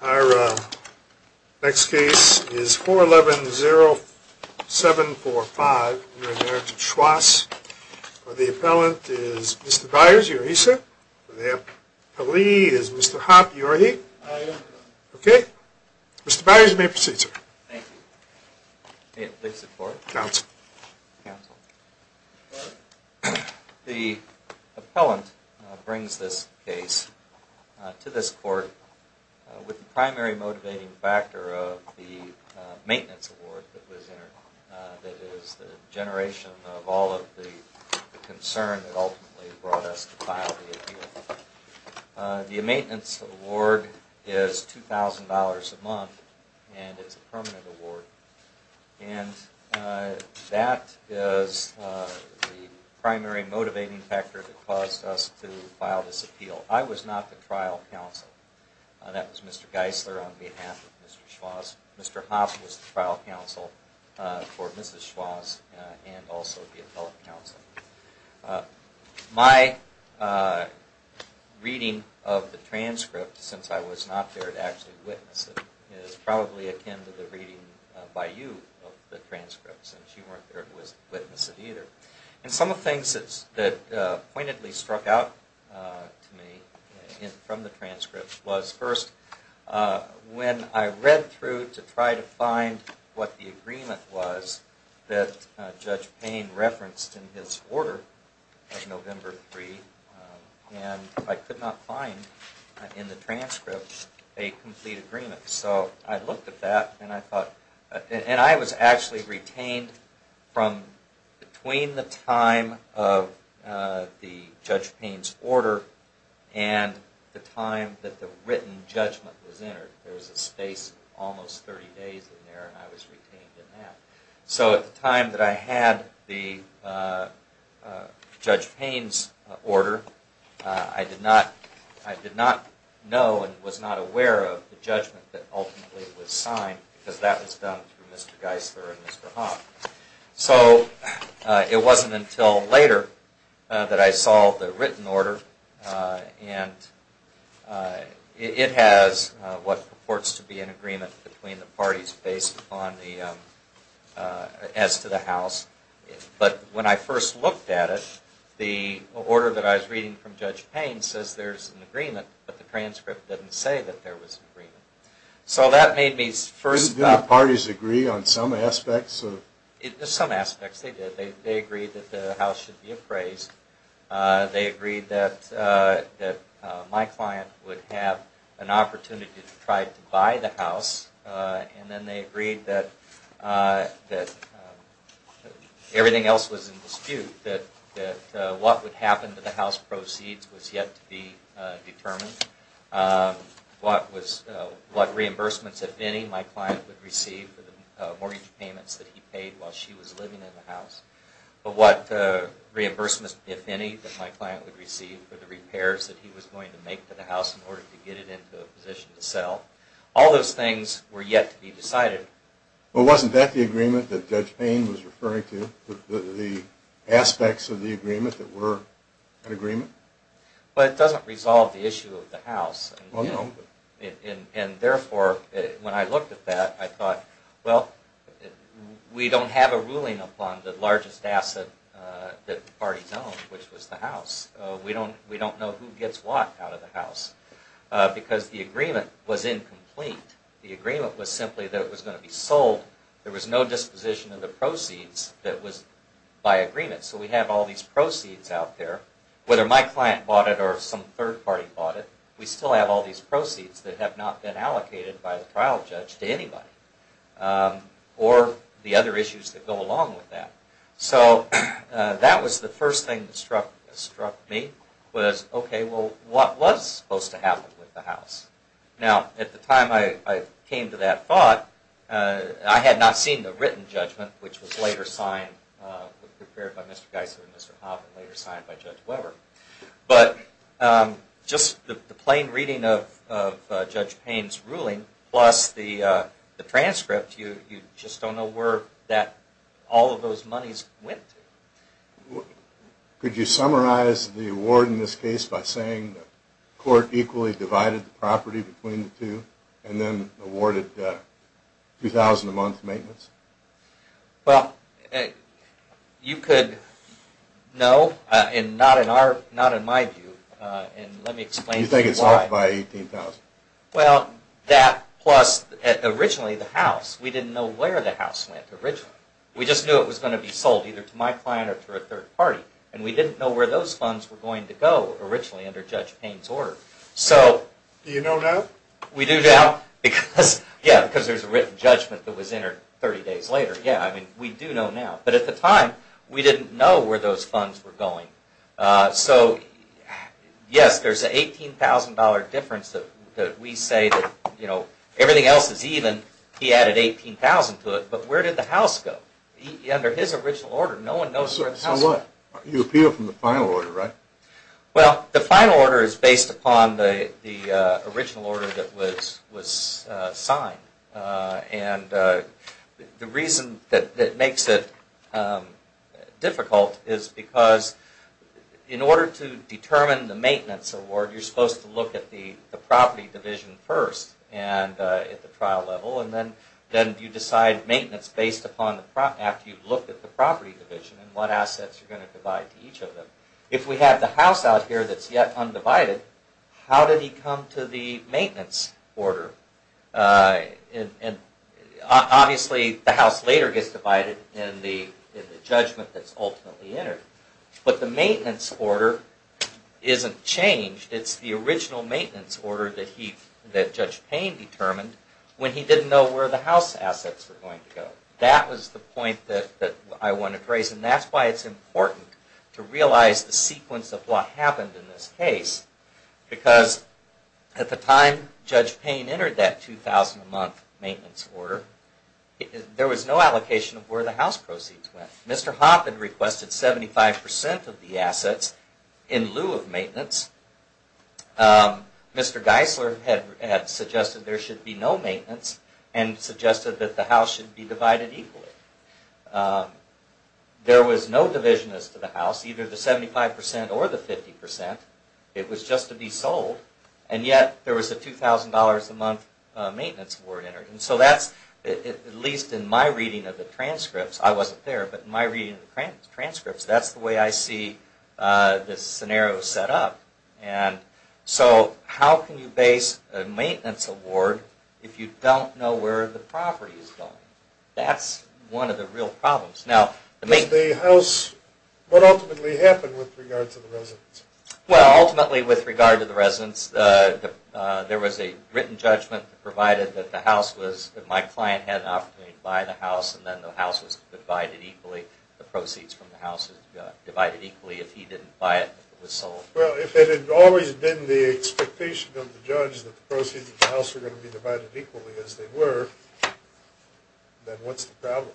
Our next case is 411-0745, Marriage of Schwass. The appellant is Mr. Byers, are you here, sir? The appellee is Mr. Hopp, are you here? I am here. Okay. Mr. Byers, you may proceed, sir. Thank you. May it please the Court? Counsel. The appellant brings this case to this Court with the primary motivating factor of the maintenance award that is the generation of all of the concern that ultimately brought us to file the appeal. The maintenance award is $2,000 a month and is a permanent award and that is the primary motivating factor that caused us to file this appeal. I was not the trial counsel. That was Mr. Geisler on behalf of Mr. Schwass. Mr. Hopp was the trial counsel for Mrs. Schwass and also the appellate counsel. My reading of the transcript since I was not there to actually witness it is probably akin to the reading by you of the transcript since you weren't there to witness it either. Some of the things that pointedly struck out to me from the transcript was first when I read through to try to find what the agreement was that Judge Payne referenced in his order of November 3 and I could not find in the transcript a complete agreement. So I looked at that and I thought and I was actually retained from between the time of the Judge Payne's order and the time that the written judgment was entered. There was a space almost 30 days in there and I was retained in that. So at the time that I had the Judge Payne's order, I did not know and was not aware of the judgment that ultimately was signed because that was done through Mr. Geisler and Mr. Hopp. So it wasn't until later that I saw the written order and it has what purports to be an agreement between the parties as to the House. But when I first looked at it, the order that I was reading from Judge Payne says there's an agreement but the transcript didn't say that there was an agreement. So that made me first… Didn't the parties agree on some aspects? Some aspects they did. They agreed that the House should be appraised. They agreed that my client would have an opportunity to try to buy the House and then they agreed that everything else was in dispute. That what would happen to the House proceeds was yet to be determined. What reimbursements, if any, my client would receive for the mortgage payments that he paid while she was living in the House. But what reimbursements, if any, that my client would receive for the repairs that he was going to make to the House in order to get it into a position to sell. All those things were yet to be decided. But wasn't that the agreement that Judge Payne was referring to? The aspects of the agreement that were an agreement? But it doesn't resolve the issue of the House. Well, no. And therefore, when I looked at that, I thought, well, we don't have a ruling upon the largest asset that the parties own, which was the House. We don't know who gets what out of the House. Because the agreement was incomplete. The agreement was simply that it was going to be sold. There was no disposition of the proceeds that was by agreement. So we have all these proceeds out there. Whether my client bought it or some third party bought it, we still have all these proceeds that have not been allocated by the trial judge to anybody. Or the other issues that go along with that. So that was the first thing that struck me. Was, okay, well, what was supposed to happen with the House? Now, at the time I came to that thought, I had not seen the written judgment, which was later signed, prepared by Mr. Geisler and Mr. Hoffman, later signed by Judge Weber. But just the plain reading of Judge Payne's ruling, plus the transcript, you just don't know where all of those monies went to. Could you summarize the award in this case by saying the court equally divided the property between the two, and then awarded $2,000 a month maintenance? Well, you could know, and not in my view, and let me explain to you why. You think it's off by $18,000? Well, that plus, originally, the House. We didn't know where the House went originally. We just knew it was going to be sold, either to my client or to a third party. And we didn't know where those funds were going to go, originally, under Judge Payne's order. Do you know now? We do now. Yeah, because there's a written judgment that was entered 30 days later. Yeah, I mean, we do know now. But at the time, we didn't know where those funds were going. So, yes, there's an $18,000 difference that we say that, you know, everything else is even. He added $18,000 to it, but where did the House go? Under his original order, no one knows where the House is. So what? You appeal from the final order, right? Well, the final order is based upon the original order that was signed. And the reason that makes it difficult is because, in order to determine the maintenance award, you're supposed to look at the property division first at the trial level. And then you decide maintenance based upon, after you've looked at the property division, and what assets you're going to divide to each of them. If we have the House out here that's yet undivided, how did he come to the maintenance order? Obviously, the House later gets divided in the judgment that's ultimately entered. But the maintenance order isn't changed. It's the original maintenance order that Judge Payne determined when he didn't know where the House assets were going to go. That was the point that I wanted to raise. And that's why it's important to realize the sequence of what happened in this case. Because at the time Judge Payne entered that $2,000 a month maintenance order, there was no allocation of where the House proceeds went. Mr. Hopp had requested 75% of the assets in lieu of maintenance. Mr. Geisler had suggested there should be no maintenance and suggested that the House should be divided equally. There was no division as to the House, either the 75% or the 50%. It was just to be sold. And yet, there was a $2,000 a month maintenance order entered. So that's, at least in my reading of the transcripts, I wasn't there, but in my reading of the transcripts, that's the way I see this scenario set up. So how can you base a maintenance award if you don't know where the property is going? That's one of the real problems. What ultimately happened with regard to the residence? Well, ultimately with regard to the residence, there was a written judgment provided that my client had an opportunity to buy the House and then the House was divided equally, the proceeds from the House were divided equally. If he didn't buy it, it was sold. Well, if it had always been the expectation of the judge that the proceeds of the House were going to be divided equally as they were, then what's the problem?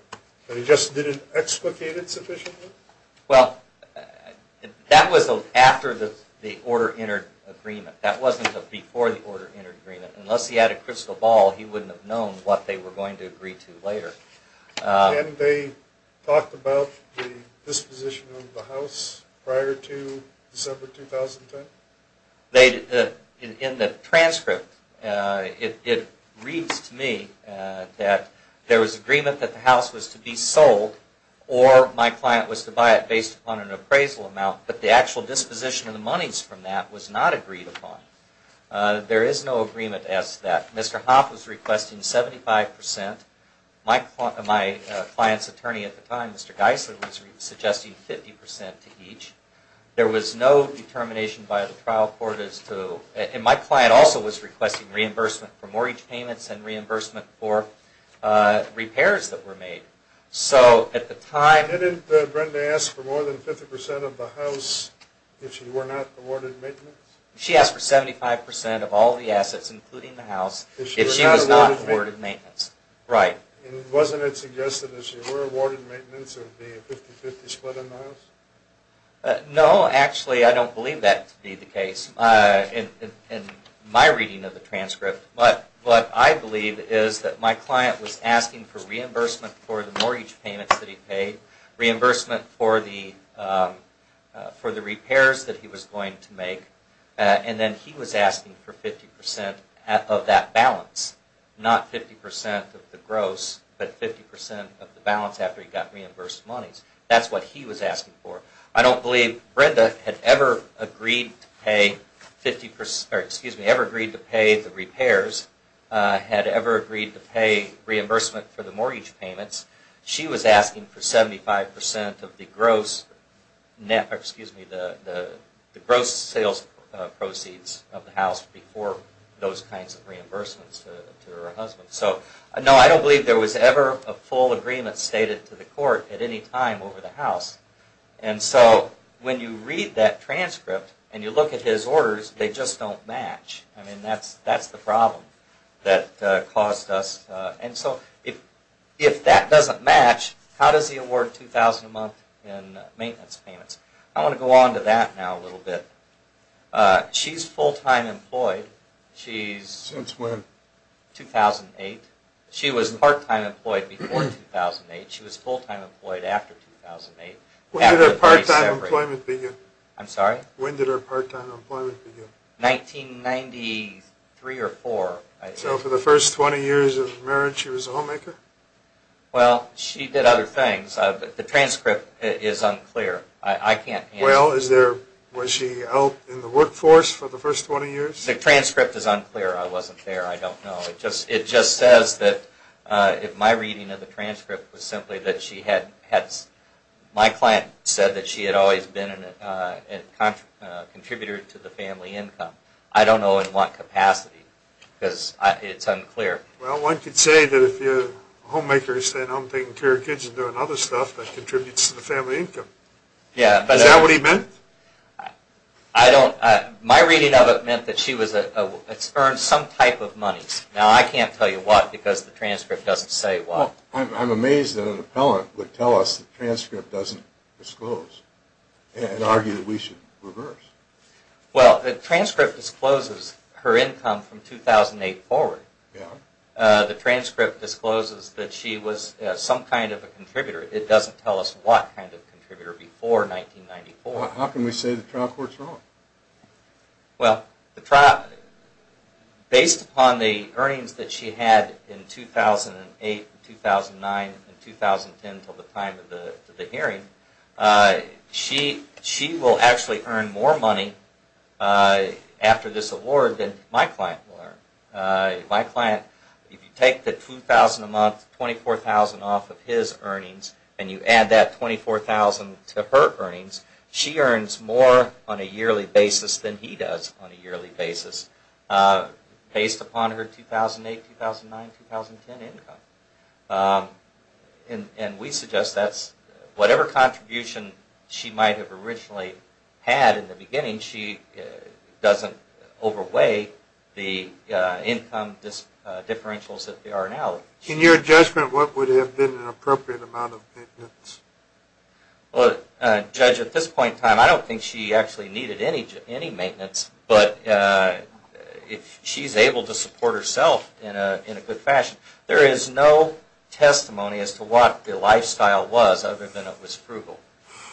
He just didn't explicate it sufficiently? Well, that was after the order entered agreement. That wasn't before the order entered agreement. Unless he had a crystal ball, he wouldn't have known what they were going to agree to later. And they talked about the disposition of the House prior to December 2010? In the transcript, it reads to me that there was agreement that the House was to be sold or my client was to buy it based upon an appraisal amount, but the actual disposition of the monies from that was not agreed upon. There is no agreement as to that. Mr. Hoff was requesting 75%. My client's attorney at the time, Mr. Geisler, was suggesting 50% to each. There was no determination by the trial court as to... And my client also was requesting reimbursement for mortgage payments and reimbursement for repairs that were made. So at the time... Didn't Brenda ask for more than 50% of the House if she were not awarded maintenance? She asked for 75% of all the assets, including the House, if she was not awarded maintenance. Right. And wasn't it suggested that if she were awarded maintenance, it would be a 50-50 split in the House? No, actually, I don't believe that to be the case in my reading of the transcript. But what I believe is that my client was asking for reimbursement for the mortgage payments that he paid, and then he was asking for 50% of that balance. Not 50% of the gross, but 50% of the balance after he got reimbursed monies. That's what he was asking for. I don't believe Brenda had ever agreed to pay the repairs, had ever agreed to pay reimbursement for the mortgage payments. She was asking for 75% of the gross sales proceeds of the House before those kinds of reimbursements to her husband. So no, I don't believe there was ever a full agreement stated to the court at any time over the House. And so when you read that transcript and you look at his orders, they just don't match. I mean, that's the problem that caused us... And so if that doesn't match, how does he award $2,000 a month in maintenance payments? I want to go on to that now a little bit. She's full-time employed. Since when? 2008. She was part-time employed before 2008. She was full-time employed after 2008. When did her part-time employment begin? When did her part-time employment begin? 1993 or 4, I think. So for the first 20 years of marriage she was a homemaker? Well, she did other things. The transcript is unclear. I can't answer that. Well, was she out in the workforce for the first 20 years? The transcript is unclear. I wasn't there. I don't know. It just says that my reading of the transcript was simply that she had... My client said that she had always been a contributor to the family income. I don't know in what capacity because it's unclear. Well, one could say that if a homemaker is staying home taking care of kids and doing other stuff that contributes to the family income. Is that what he meant? I don't... My reading of it meant that she had earned some type of money. Now, I can't tell you what because the transcript doesn't say what. I'm amazed that an appellant would tell us the transcript doesn't disclose and argue that we should reverse. Well, the transcript discloses her income from 2008 forward. The transcript discloses that she was some kind of a contributor. It doesn't tell us what kind of contributor before 1994. How can we say the trial court's wrong? Well, the trial... Based upon the earnings that she had in 2008, 2009, and 2010 until the time of the hearing, she will actually earn more money after this award than my client will earn. My client, if you take the $2,000 a month, $24,000 off of his earnings, and you add that $24,000 to her earnings, she earns more on a yearly basis than he does on a yearly basis based upon her 2008, 2009, and 2010 income. And we suggest that whatever contribution she might have originally had in the beginning, she doesn't overweigh the income differentials that there are now. In your judgment, what would have been an appropriate amount of maintenance? Well, Judge, at this point in time, I don't think she actually needed any maintenance. But if she's able to support herself in a good fashion, there is no testimony as to what the lifestyle was other than it was frugal.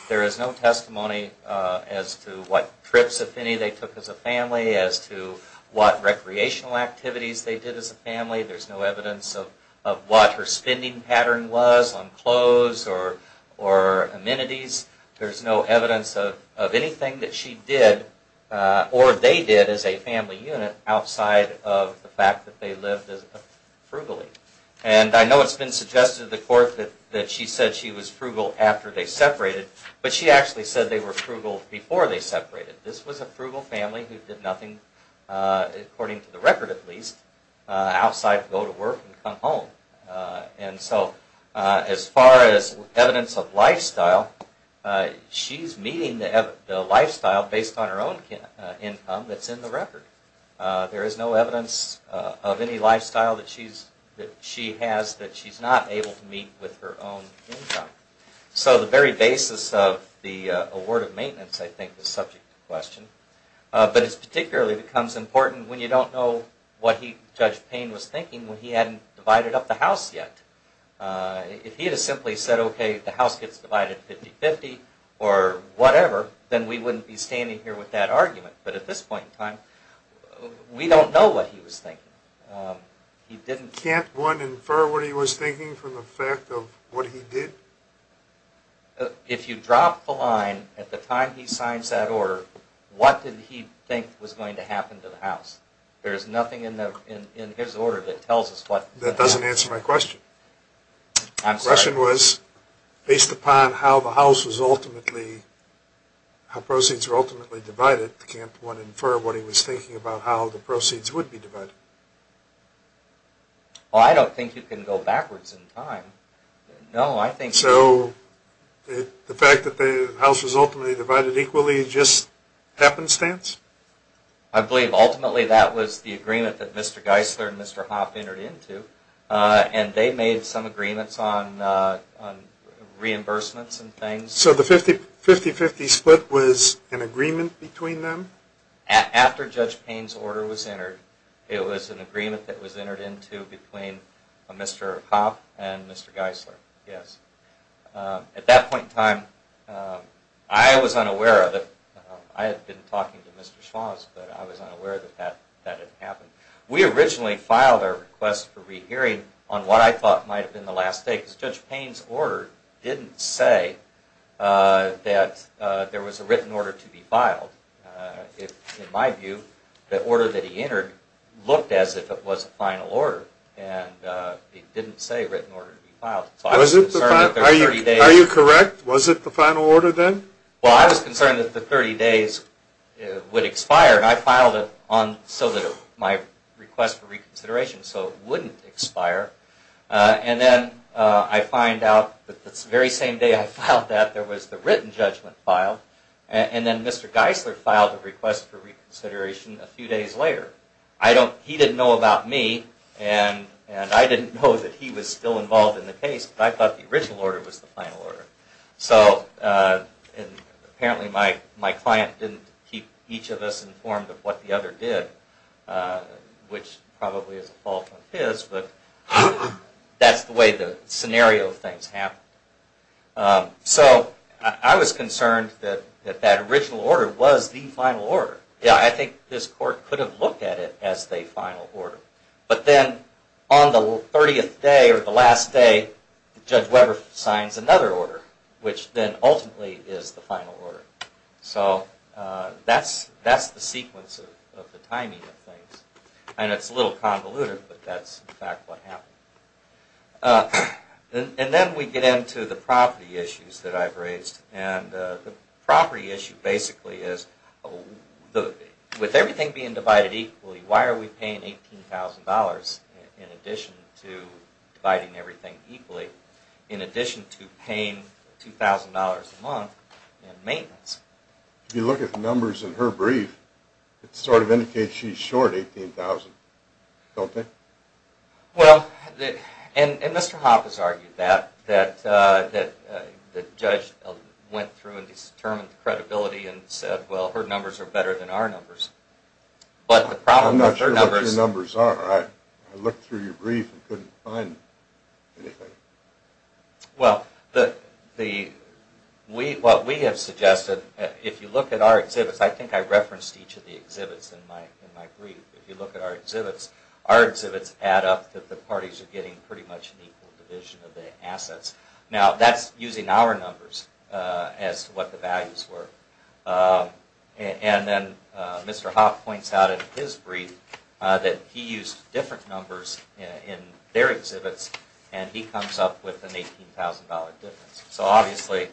There is no testimony as to what trips, if any, they took as a family, as to what recreational activities they did as a family. There's no evidence of what her spending pattern was on clothes or amenities. There's no evidence of anything that she did or they did as a family unit outside of the fact that they lived frugally. And I know it's been suggested to the court that she said she was frugal after they separated, but she actually said they were frugal before they separated. This was a frugal family who did nothing, according to the record at least, outside to go to work and come home. And so as far as evidence of lifestyle, she's meeting the lifestyle based on her own income that's in the record. There is no evidence of any lifestyle that she has that she's not able to meet with her own income. So the very basis of the award of maintenance, I think, is subject to question. But it particularly becomes important when you don't know what Judge Payne was thinking when he hadn't divided up the house yet. If he had simply said, okay, the house gets divided 50-50 or whatever, then we wouldn't be standing here with that argument. But at this point in time, we don't know what he was thinking. Can't one infer what he was thinking from the fact of what he did? If you drop the line at the time he signs that order, what did he think was going to happen to the house? There's nothing in his order that tells us what. That doesn't answer my question. I'm sorry. The question was, based upon how the house was ultimately, how proceeds were ultimately divided, can't one infer what he was thinking about how the proceeds would be divided? Well, I don't think you can go backwards in time. So the fact that the house was ultimately divided equally is just happenstance? I believe ultimately that was the agreement that Mr. Geisler and Mr. Hoff entered into, and they made some agreements on reimbursements and things. So the 50-50 split was an agreement between them? After Judge Payne's order was entered, it was an agreement that was entered into between Mr. Hoff and Mr. Geisler, yes. At that point in time, I was unaware of it. I had been talking to Mr. Schwartz, but I was unaware that that had happened. We originally filed our request for rehearing on what I thought might have been the last day because Judge Payne's order didn't say that there was a written order to be filed. In my view, the order that he entered looked as if it was a final order, and it didn't say written order to be filed. Are you correct? Was it the final order then? Well, I was concerned that the 30 days would expire, and I filed it so that my request for reconsideration wouldn't expire. Then I find out that the very same day I filed that, there was the written judgment filed, and then Mr. Geisler filed a request for reconsideration a few days later. He didn't know about me, and I didn't know that he was still involved in the case, but I thought the original order was the final order. So apparently my client didn't keep each of us informed of what the other did, which probably is a fault of his, but that's the way the scenario of things happened. So I was concerned that that original order was the final order. I think this court could have looked at it as the final order, but then on the 30th day or the last day, Judge Weber signs another order, which then ultimately is the final order. So that's the sequence of the timing of things, and it's a little convoluted, but that's in fact what happened. And then we get into the property issues that I've raised, and the property issue basically is with everything being divided equally, why are we paying $18,000 in addition to dividing everything equally, in addition to paying $2,000 a month in maintenance? If you look at the numbers in her brief, it sort of indicates she's short $18,000, don't they? Well, and Mr. Hopp has argued that, that the judge went through and determined the credibility and said, well, her numbers are better than our numbers. I'm not sure what your numbers are. I looked through your brief and couldn't find anything. Well, what we have suggested, if you look at our exhibits, I think I referenced each of the exhibits in my brief, if you look at our exhibits, our exhibits add up that the parties are getting pretty much an equal division of the assets. Now, that's using our numbers as to what the values were. And then Mr. Hopp points out in his brief, that he used different numbers in their exhibits, and he comes up with an $18,000 difference. So obviously,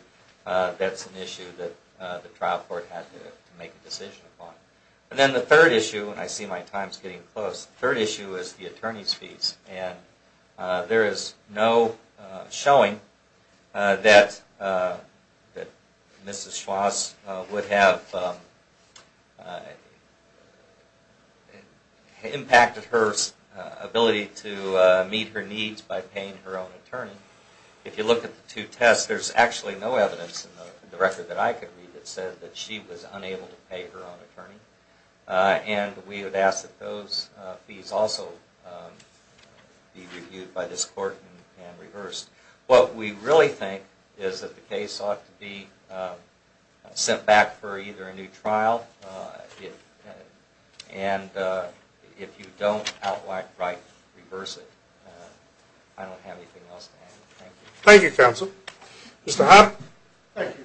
that's an issue that the trial court had to make a decision upon. And then the third issue, and I see my time's getting close, the third issue is the attorney's fees. And there is no showing that Mrs. Schwass would have impacted her ability to meet her needs by paying her own attorney. If you look at the two tests, there's actually no evidence in the record that I could read that said that she was unable to pay her own attorney. And we would ask that those fees also be reviewed by this court and reversed. What we really think is that the case ought to be sent back for either a new trial, and if you don't outright reverse it, I don't have anything else to add. Thank you. Thank you, counsel. Mr. Hopp? Thank you.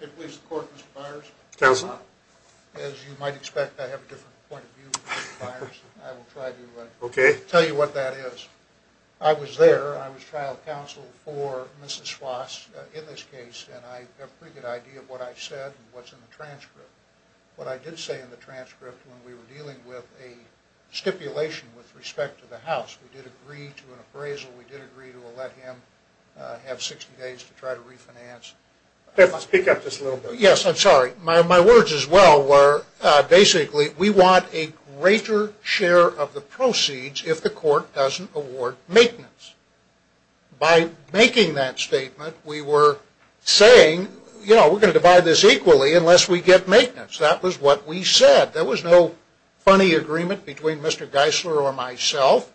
If it pleases the court, Mr. Byers. Counsel. As you might expect, I have a different point of view, Mr. Byers. I will try to tell you what that is. I was there, I was trial counsel for Mrs. Schwass in this case, and I have a pretty good idea of what I said and what's in the transcript. What I did say in the transcript when we were dealing with a stipulation with respect to the house, we did agree to an appraisal, we did agree to let him have 60 days to try to refinance. Speak up just a little bit. Yes, I'm sorry. My words as well were basically we want a greater share of the proceeds if the court doesn't award maintenance. By making that statement, we were saying, you know, we're going to divide this equally unless we get maintenance. That was what we said. There was no funny agreement between Mr. Geisler or myself.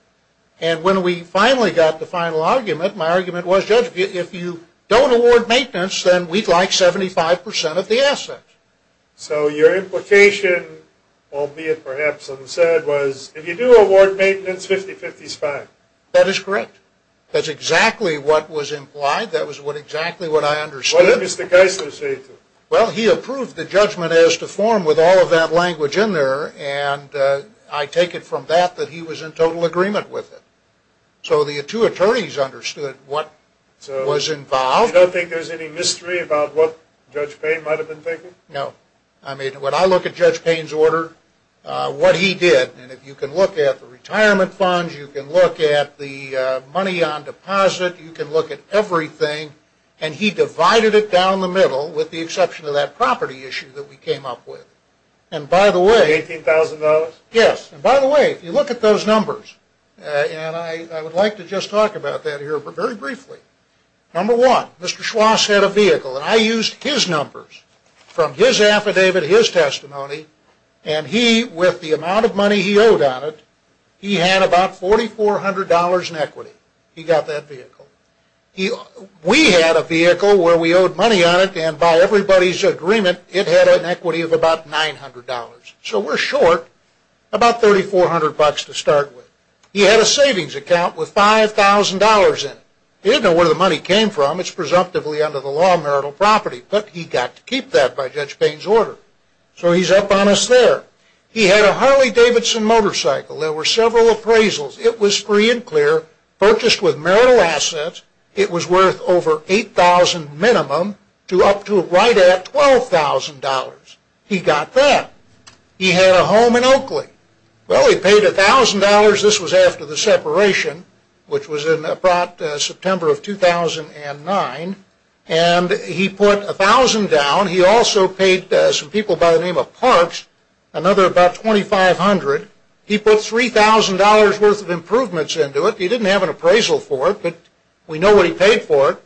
And when we finally got the final argument, my argument was, Judge, if you don't award maintenance, then we'd like 75% of the assets. So your implication, albeit perhaps unsaid, was if you do award maintenance, 50-50 is fine. That is correct. That's exactly what was implied. That was exactly what I understood. What did Mr. Geisler say to you? Well, he approved the judgment as to form with all of that language in there, and I take it from that that he was in total agreement with it. So the two attorneys understood what was involved. So you don't think there's any mystery about what Judge Payne might have been thinking? No. I mean, when I look at Judge Payne's order, what he did, and if you can look at the retirement funds, you can look at the money on deposit, you can look at everything, and he divided it down the middle with the exception of that property issue that we came up with. $18,000? Yes. And by the way, if you look at those numbers, and I would like to just talk about that here very briefly. Number one, Mr. Schwass had a vehicle, and I used his numbers from his affidavit, his testimony, and he, with the amount of money he owed on it, he had about $4,400 in equity. He got that vehicle. We had a vehicle where we owed money on it, and by everybody's agreement, it had an equity of about $900. So we're short about $3,400 to start with. He had a savings account with $5,000 in it. He didn't know where the money came from. It's presumptively under the law, marital property, but he got to keep that by Judge Payne's order. So he's up on us there. He had a Harley-Davidson motorcycle. There were several appraisals. It was free and clear, purchased with marital assets. It was worth over $8,000 minimum to up to right at $12,000. He got that. He had a home in Oakley. Well, he paid $1,000. This was after the separation, which was in September of 2009, and he put $1,000 down. He also paid some people by the name of Parks another about $2,500. He put $3,000 worth of improvements into it. He didn't have an appraisal for it, but we know what he paid for it.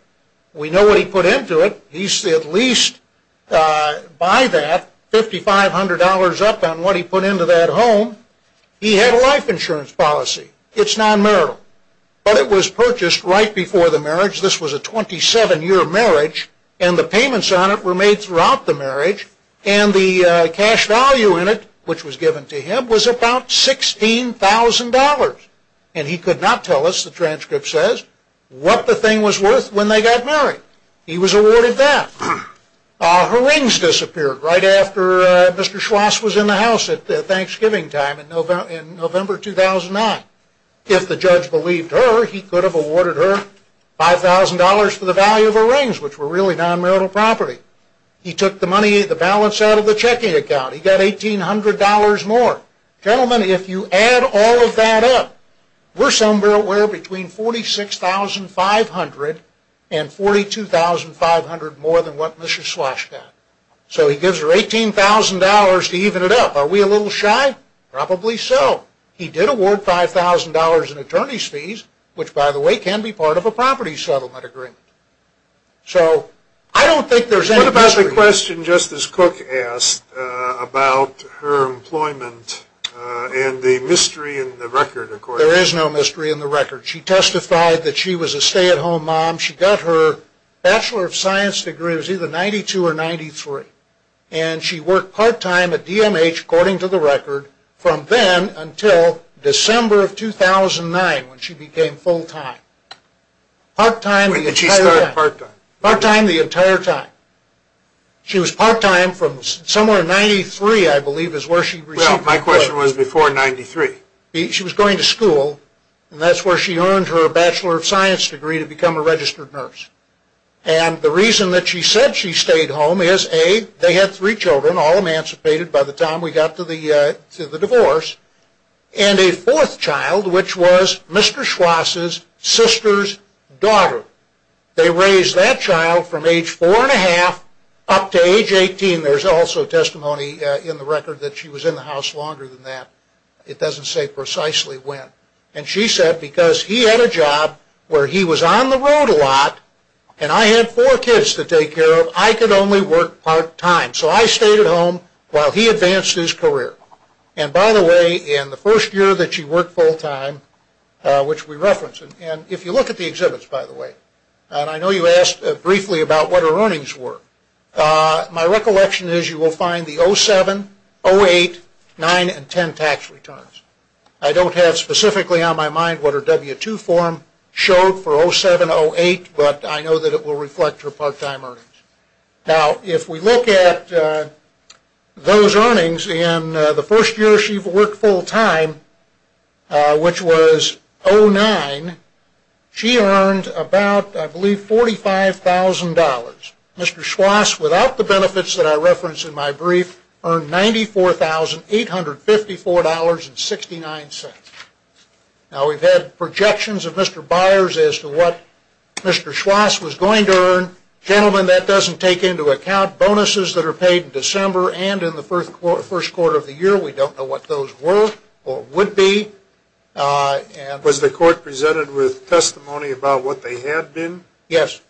We know what he put into it. He's at least, by that, $5,500 up on what he put into that home. He had a life insurance policy. It's non-marital, but it was purchased right before the marriage. This was a 27-year marriage, and the payments on it were made throughout the marriage, and the cash value in it, which was given to him, was about $16,000, and he could not tell us, the transcript says, what the thing was worth when they got married. He was awarded that. Her rings disappeared right after Mr. Schwass was in the house at Thanksgiving time in November 2009. If the judge believed her, he could have awarded her $5,000 for the value of her rings, which were really non-marital property. He took the money, the balance, out of the checking account. He got $1,800 more. Gentlemen, if you add all of that up, we're somewhere between $46,500 and $42,500 more than what Mr. Schwass got. So he gives her $18,000 to even it up. Are we a little shy? Probably so. He did award $5,000 in attorney's fees, which, by the way, can be part of a property settlement agreement. So I don't think there's any mystery. I have a question, just as Cook asked, about her employment and the mystery in the record. There is no mystery in the record. She testified that she was a stay-at-home mom. She got her Bachelor of Science degree. It was either 92 or 93. And she worked part-time at DMH, according to the record, from then until December of 2009 when she became full-time. Did she start part-time? Part-time the entire time. She was part-time from somewhere in 93, I believe, is where she received her degree. Well, my question was before 93. She was going to school, and that's where she earned her Bachelor of Science degree to become a registered nurse. And the reason that she said she stayed home is, A, they had three children, all emancipated by the time we got to the divorce, and a fourth child, which was Mr. Schwass's sister's daughter. They raised that child from age four and a half up to age 18. There's also testimony in the record that she was in the house longer than that. It doesn't say precisely when. And she said, because he had a job where he was on the road a lot, and I had four kids to take care of, I could only work part-time. So I stayed at home while he advanced his career. And, by the way, in the first year that she worked full-time, which we referenced, and if you look at the exhibits, by the way, and I know you asked briefly about what her earnings were, my recollection is you will find the 07, 08, 09, and 10 tax returns. I don't have specifically on my mind what her W-2 form showed for 07, 08, but I know that it will reflect her part-time earnings. Now, if we look at those earnings in the first year she worked full-time, which was 09, she earned about, I believe, $45,000. Mr. Schwass, without the benefits that I referenced in my brief, earned $94,854.69. Now, we've had projections of Mr. Byers as to what Mr. Schwass was going to earn. Gentlemen, that doesn't take into account bonuses that are paid in December and in the first quarter of the year. We don't know what those were or would be. Was the court presented with testimony about what they had been? Yes.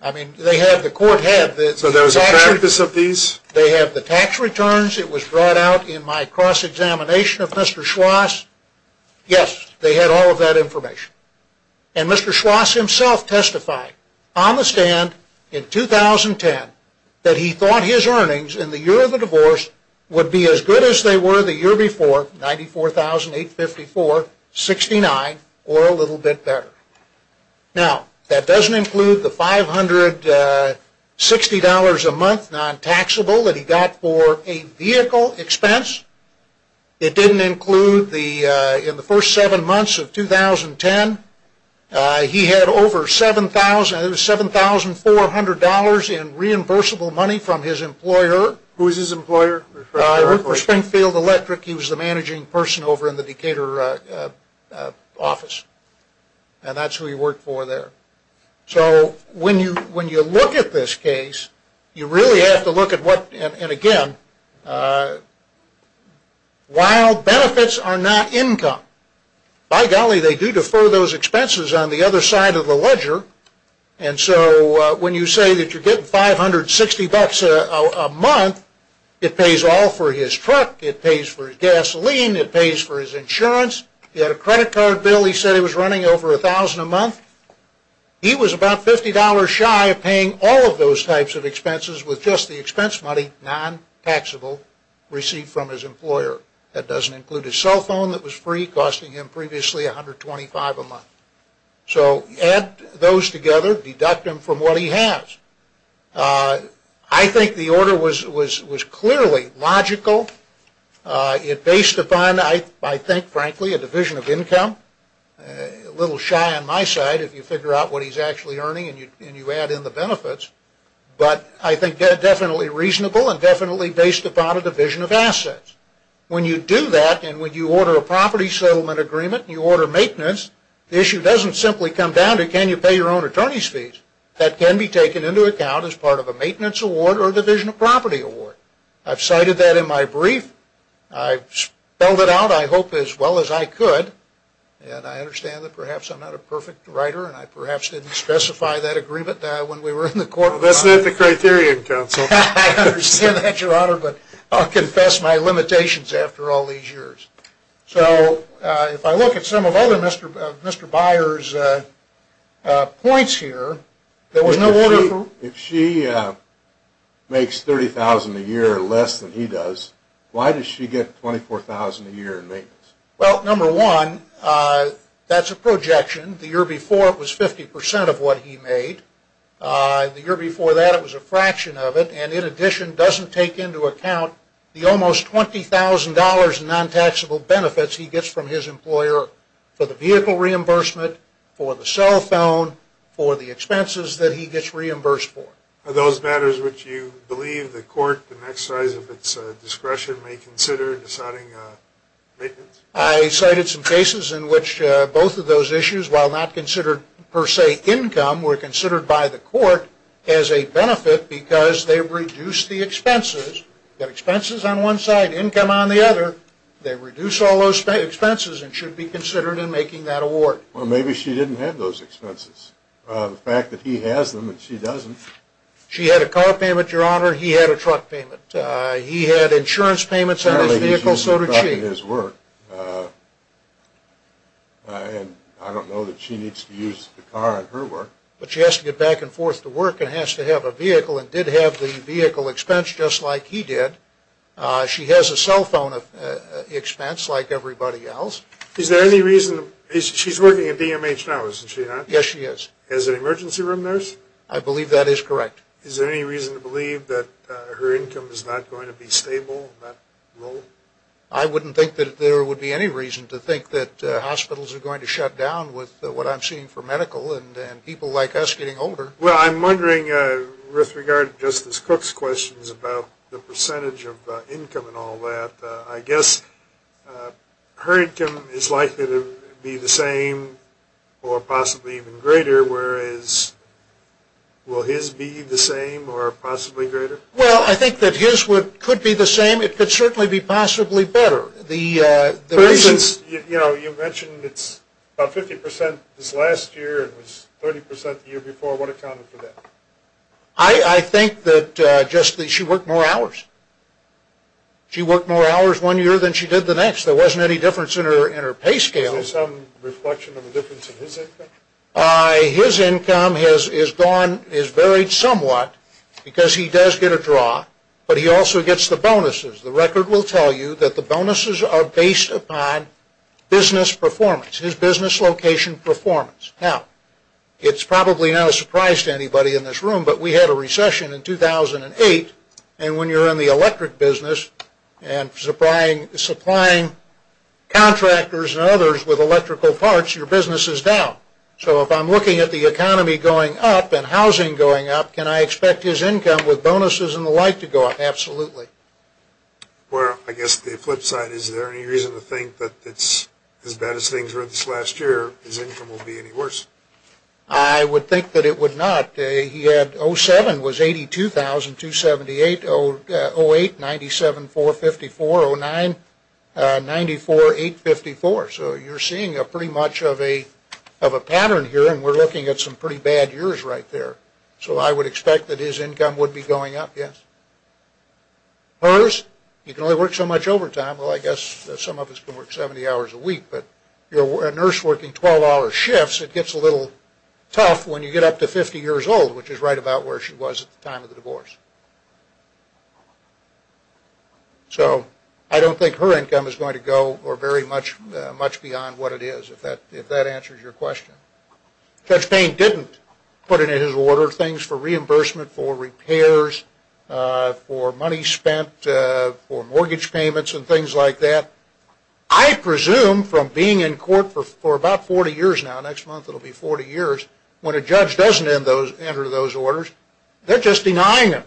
I mean, they had, the court had. So there was a practice of these? They had the tax returns. It was brought out in my cross-examination of Mr. Schwass. Yes, they had all of that information. And Mr. Schwass himself testified on the stand in 2010 that he thought his earnings in the year of the divorce would be as good as they were the year before, $94,854.69 or a little bit better. Now, that doesn't include the $560 a month non-taxable that he got for a vehicle expense. It didn't include, in the first seven months of 2010, he had over $7,400 in reimbursable money from his employer. Who was his employer? He worked for Springfield Electric. He was the managing person over in the Decatur office, and that's who he worked for there. So when you look at this case, you really have to look at what, and again, while benefits are not income, by golly, they do defer those expenses on the other side of the ledger. And so when you say that you're getting $560 a month, it pays all for his truck, it pays for his gasoline, it pays for his insurance. He had a credit card bill he said he was running over $1,000 a month. He was about $50 shy of paying all of those types of expenses with just the expense money non-taxable received from his employer. That doesn't include his cell phone that was free, costing him previously $125 a month. So add those together, deduct them from what he has. I think the order was clearly logical. It based upon, I think, frankly, a division of income. A little shy on my side if you figure out what he's actually earning and you add in the benefits, but I think definitely reasonable and definitely based upon a division of assets. When you do that and when you order a property settlement agreement and you order maintenance, the issue doesn't simply come down to can you pay your own attorney's fees. That can be taken into account as part of a maintenance award or a division of property award. I've cited that in my brief. I've spelled it out, I hope, as well as I could. And I understand that perhaps I'm not a perfect writer and I perhaps didn't specify that agreement when we were in the courtroom. That's not the criterion, counsel. I understand that, Your Honor, but I'll confess my limitations after all these years. So if I look at some of other Mr. Byers' points here, there was no order from... If she makes $30,000 a year less than he does, why does she get $24,000 a year in maintenance? Well, number one, that's a projection. The year before it was 50% of what he made. The year before that it was a fraction of it, and in addition doesn't take into account the almost $20,000 in non-taxable benefits he gets from his employer for the vehicle reimbursement, for the cell phone, for the expenses that he gets reimbursed for. Are those matters which you believe the court, to the next size of its discretion, may consider deciding maintenance? I cited some cases in which both of those issues, while not considered per se income, were considered by the court as a benefit because they reduced the expenses. You've got expenses on one side, income on the other. They reduce all those expenses and should be considered in making that award. Well, maybe she didn't have those expenses. The fact that he has them and she doesn't. She had a car payment, Your Honor. He had a truck payment. He had insurance payments on his vehicle, so did she. Apparently he's using the truck in his work, and I don't know that she needs to use the car in her work. But she has to get back and forth to work and has to have a vehicle and did have the vehicle expense just like he did. She has a cell phone expense like everybody else. Is there any reason, she's working at DMH now, isn't she, Your Honor? Yes, she is. As an emergency room nurse? I believe that is correct. Is there any reason to believe that her income is not going to be stable in that role? I wouldn't think that there would be any reason to think that hospitals are going to shut down with what I'm seeing for medical and people like us getting older. Well, I'm wondering with regard to Justice Cook's questions about the percentage of income and all that. I guess her income is likely to be the same or possibly even greater, whereas will his be the same or possibly greater? Well, I think that his could be the same. It could certainly be possibly better. For instance, you mentioned it's about 50% this last year and was 30% the year before. What accounted for that? I think that just that she worked more hours. She worked more hours one year than she did the next. There wasn't any difference in her pay scale. Is there some reflection of a difference in his income? His income is varied somewhat because he does get a draw, but he also gets the bonuses. The record will tell you that the bonuses are based upon business performance, his business location performance. Now, it's probably not a surprise to anybody in this room, but we had a recession in 2008, and when you're in the electric business and supplying contractors and others with electrical parts, your business is down. So if I'm looking at the economy going up and housing going up, can I expect his income with bonuses and the like to go up? Absolutely. Well, I guess the flip side, is there any reason to think that it's as bad as things were this last year, his income won't be any worse? I would think that it would not. He had 07 was $82,278. 08, 97, 454. 09, 94, 854. So you're seeing pretty much of a pattern here, and we're looking at some pretty bad years right there. So I would expect that his income would be going up, yes. Hers, you can only work so much overtime. Well, I guess some of us can work 70 hours a week, but a nurse working 12-hour shifts, it gets a little tough when you get up to 50 years old, which is right about where she was at the time of the divorce. So I don't think her income is going to go very much beyond what it is, if that answers your question. Judge Payne didn't put in his order things for reimbursement for repairs, for money spent, for mortgage payments and things like that. I presume from being in court for about 40 years now, next month it will be 40 years, when a judge doesn't enter those orders, they're just denying them.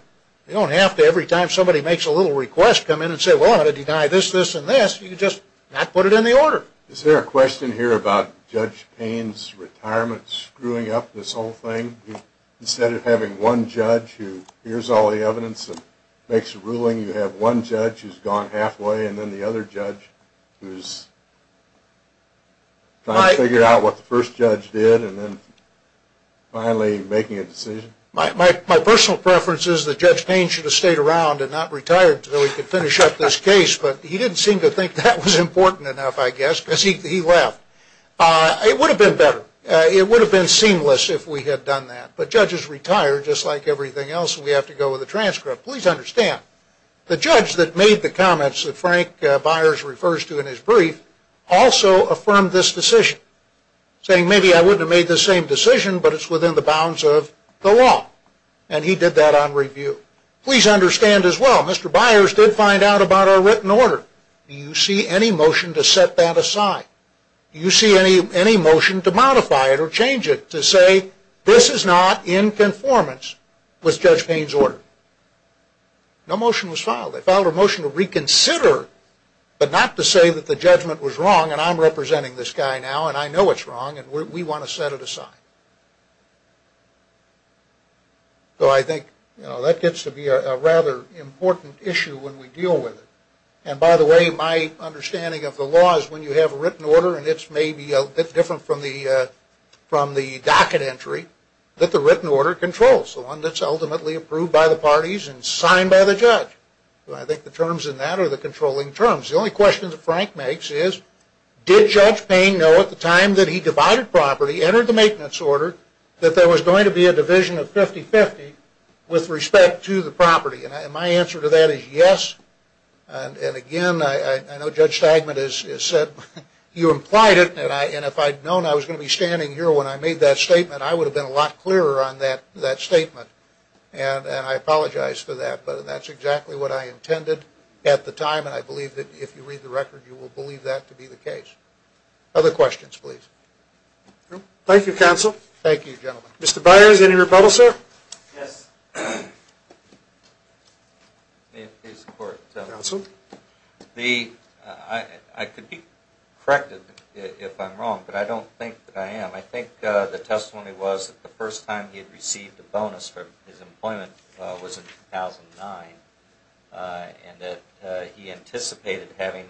You don't have to every time somebody makes a little request come in and say, well, I'm going to deny this, this, and this, you just not put it in the order. Is there a question here about Judge Payne's retirement screwing up this whole thing? Instead of having one judge who hears all the evidence and makes a ruling, you have one judge who's gone halfway and then the other judge who's trying to figure out what the first judge did and then finally making a decision? My personal preference is that Judge Payne should have stayed around and not retired until he could finish up this case, but he didn't seem to think that was important enough, I guess, because he left. It would have been better, it would have been seamless if we had done that, but judges retire just like everything else and we have to go with a transcript. Please understand, the judge that made the comments that Frank Byers refers to in his brief also affirmed this decision, saying maybe I wouldn't have made this same decision, but it's within the bounds of the law, and he did that on review. Please understand as well, Mr. Byers did find out about our written order. Do you see any motion to set that aside? Do you see any motion to modify it or change it to say this is not in conformance with Judge Payne's order? No motion was filed. They filed a motion to reconsider, but not to say that the judgment was wrong and I'm representing this guy now and I know it's wrong and we want to set it aside. So I think that gets to be a rather important issue when we deal with it. And by the way, my understanding of the law is when you have a written order and it's maybe a bit different from the docket entry, that the written order controls, the one that's ultimately approved by the parties and signed by the judge. I think the terms in that are the controlling terms. The only question that Frank makes is did Judge Payne know at the time that he divided property, entered the maintenance order, that there was going to be a division of 50-50 with respect to the property? And my answer to that is yes. And again, I know Judge Stagman has said you implied it and if I'd known I was going to be standing here when I made that statement, I would have been a lot clearer on that statement. And I apologize for that, but that's exactly what I intended at the time and I believe that if you read the record, you will believe that to be the case. Other questions, please? Thank you, Counsel. Thank you, gentlemen. Mr. Byers, any rebuttal, sir? Yes. I could be corrected if I'm wrong, but I don't think that I am. I think the testimony was that the first time he had received a bonus for his employment was in 2009 and that he anticipated having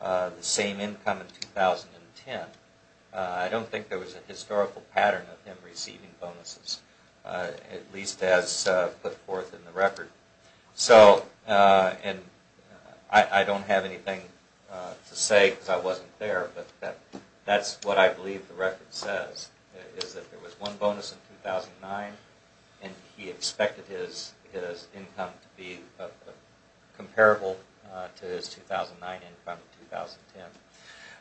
the same income in 2010. I don't think there was a historical pattern of him receiving bonuses, at least as put forth in the record. So, and I don't have anything to say because I wasn't there, but that's what I believe the record says is that there was one bonus in 2009 and he expected his income to be comparable to his 2009 income in 2010.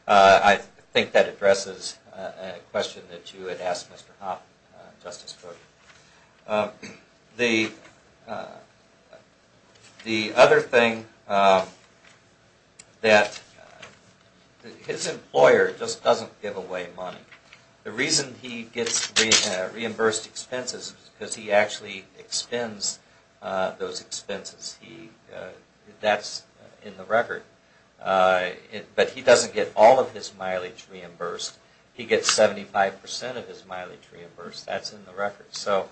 I think that addresses a question that you had asked Mr. Hoppe, Justice Cook. The other thing that his employer just doesn't give away money. The reason he gets reimbursed expenses is because he actually expends those expenses. That's in the record. But he doesn't get all of his mileage reimbursed. He gets 75% of his mileage reimbursed. That's in the record. So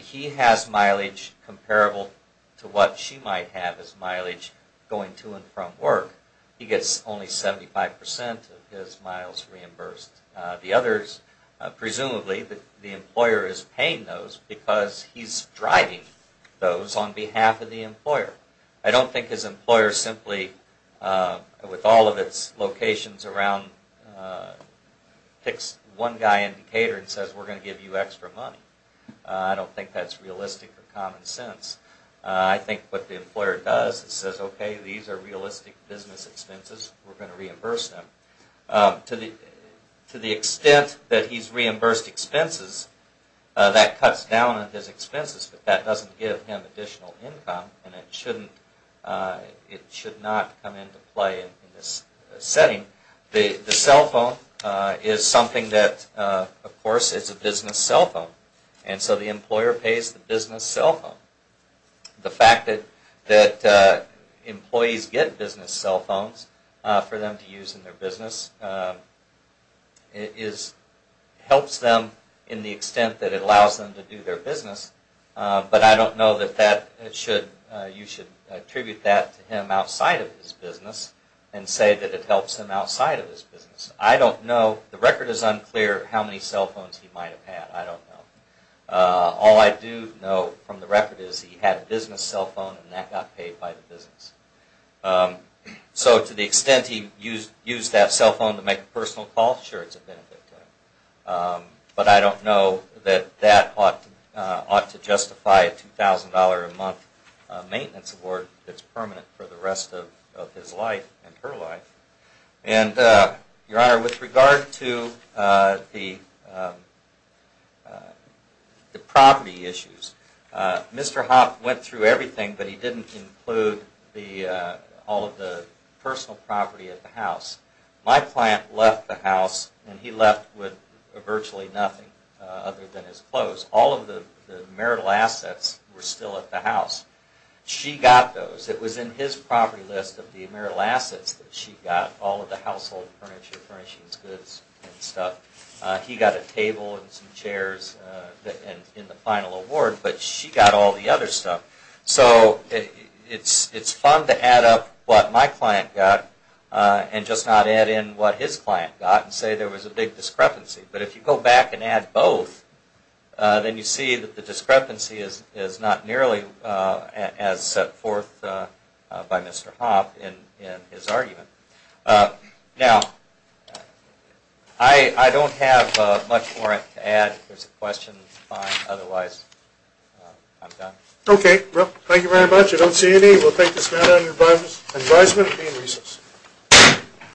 he has mileage comparable to what she might have as mileage going to and from work. He gets only 75% of his mileage reimbursed. The others, presumably the employer is paying those because he's driving those on behalf of the employer. I don't think his employer simply, with all of its locations around, picks one guy in Decatur and says we're going to give you extra money. I don't think that's realistic or common sense. I think what the employer does is says okay, these are realistic business expenses. We're going to reimburse them. To the extent that he's reimbursed expenses, that cuts down on his expenses. But that doesn't give him additional income and it should not come into play in this setting. The cell phone is something that, of course, is a business cell phone. And so the employer pays the business cell phone. The fact that employees get business cell phones for them to use in their business helps them in the extent that it allows them to do their business. But I don't know that you should attribute that to him outside of his business and say that it helps him outside of his business. I don't know. The record is unclear how many cell phones he might have had. I don't know. All I do know from the record is he had a business cell phone and that got paid by the business. So to the extent he used that cell phone to make a personal call, sure it's a benefit to him. But I don't know that that ought to justify a $2,000 a month maintenance award that's permanent for the rest of his life and her life. And, Your Honor, with regard to the property issues, Mr. Hoff went through everything, but he didn't include all of the personal property at the house. My client left the house and he left with virtually nothing other than his clothes. All of the marital assets were still at the house. She got those. It was in his property list of the marital assets that she got, all of the household furniture, furnishings, goods, and stuff. He got a table and some chairs in the final award, but she got all the other stuff. So it's fun to add up what my client got and just not add in what his client got and say there was a big discrepancy. But if you go back and add both, then you see that the discrepancy is not nearly as set forth by Mr. Hoff in his argument. Now, I don't have much more to add. If there's a question, that's fine. Otherwise, I'm done. Okay. Well, thank you very much. I don't see any. We'll take this matter under advisement. Be in recess.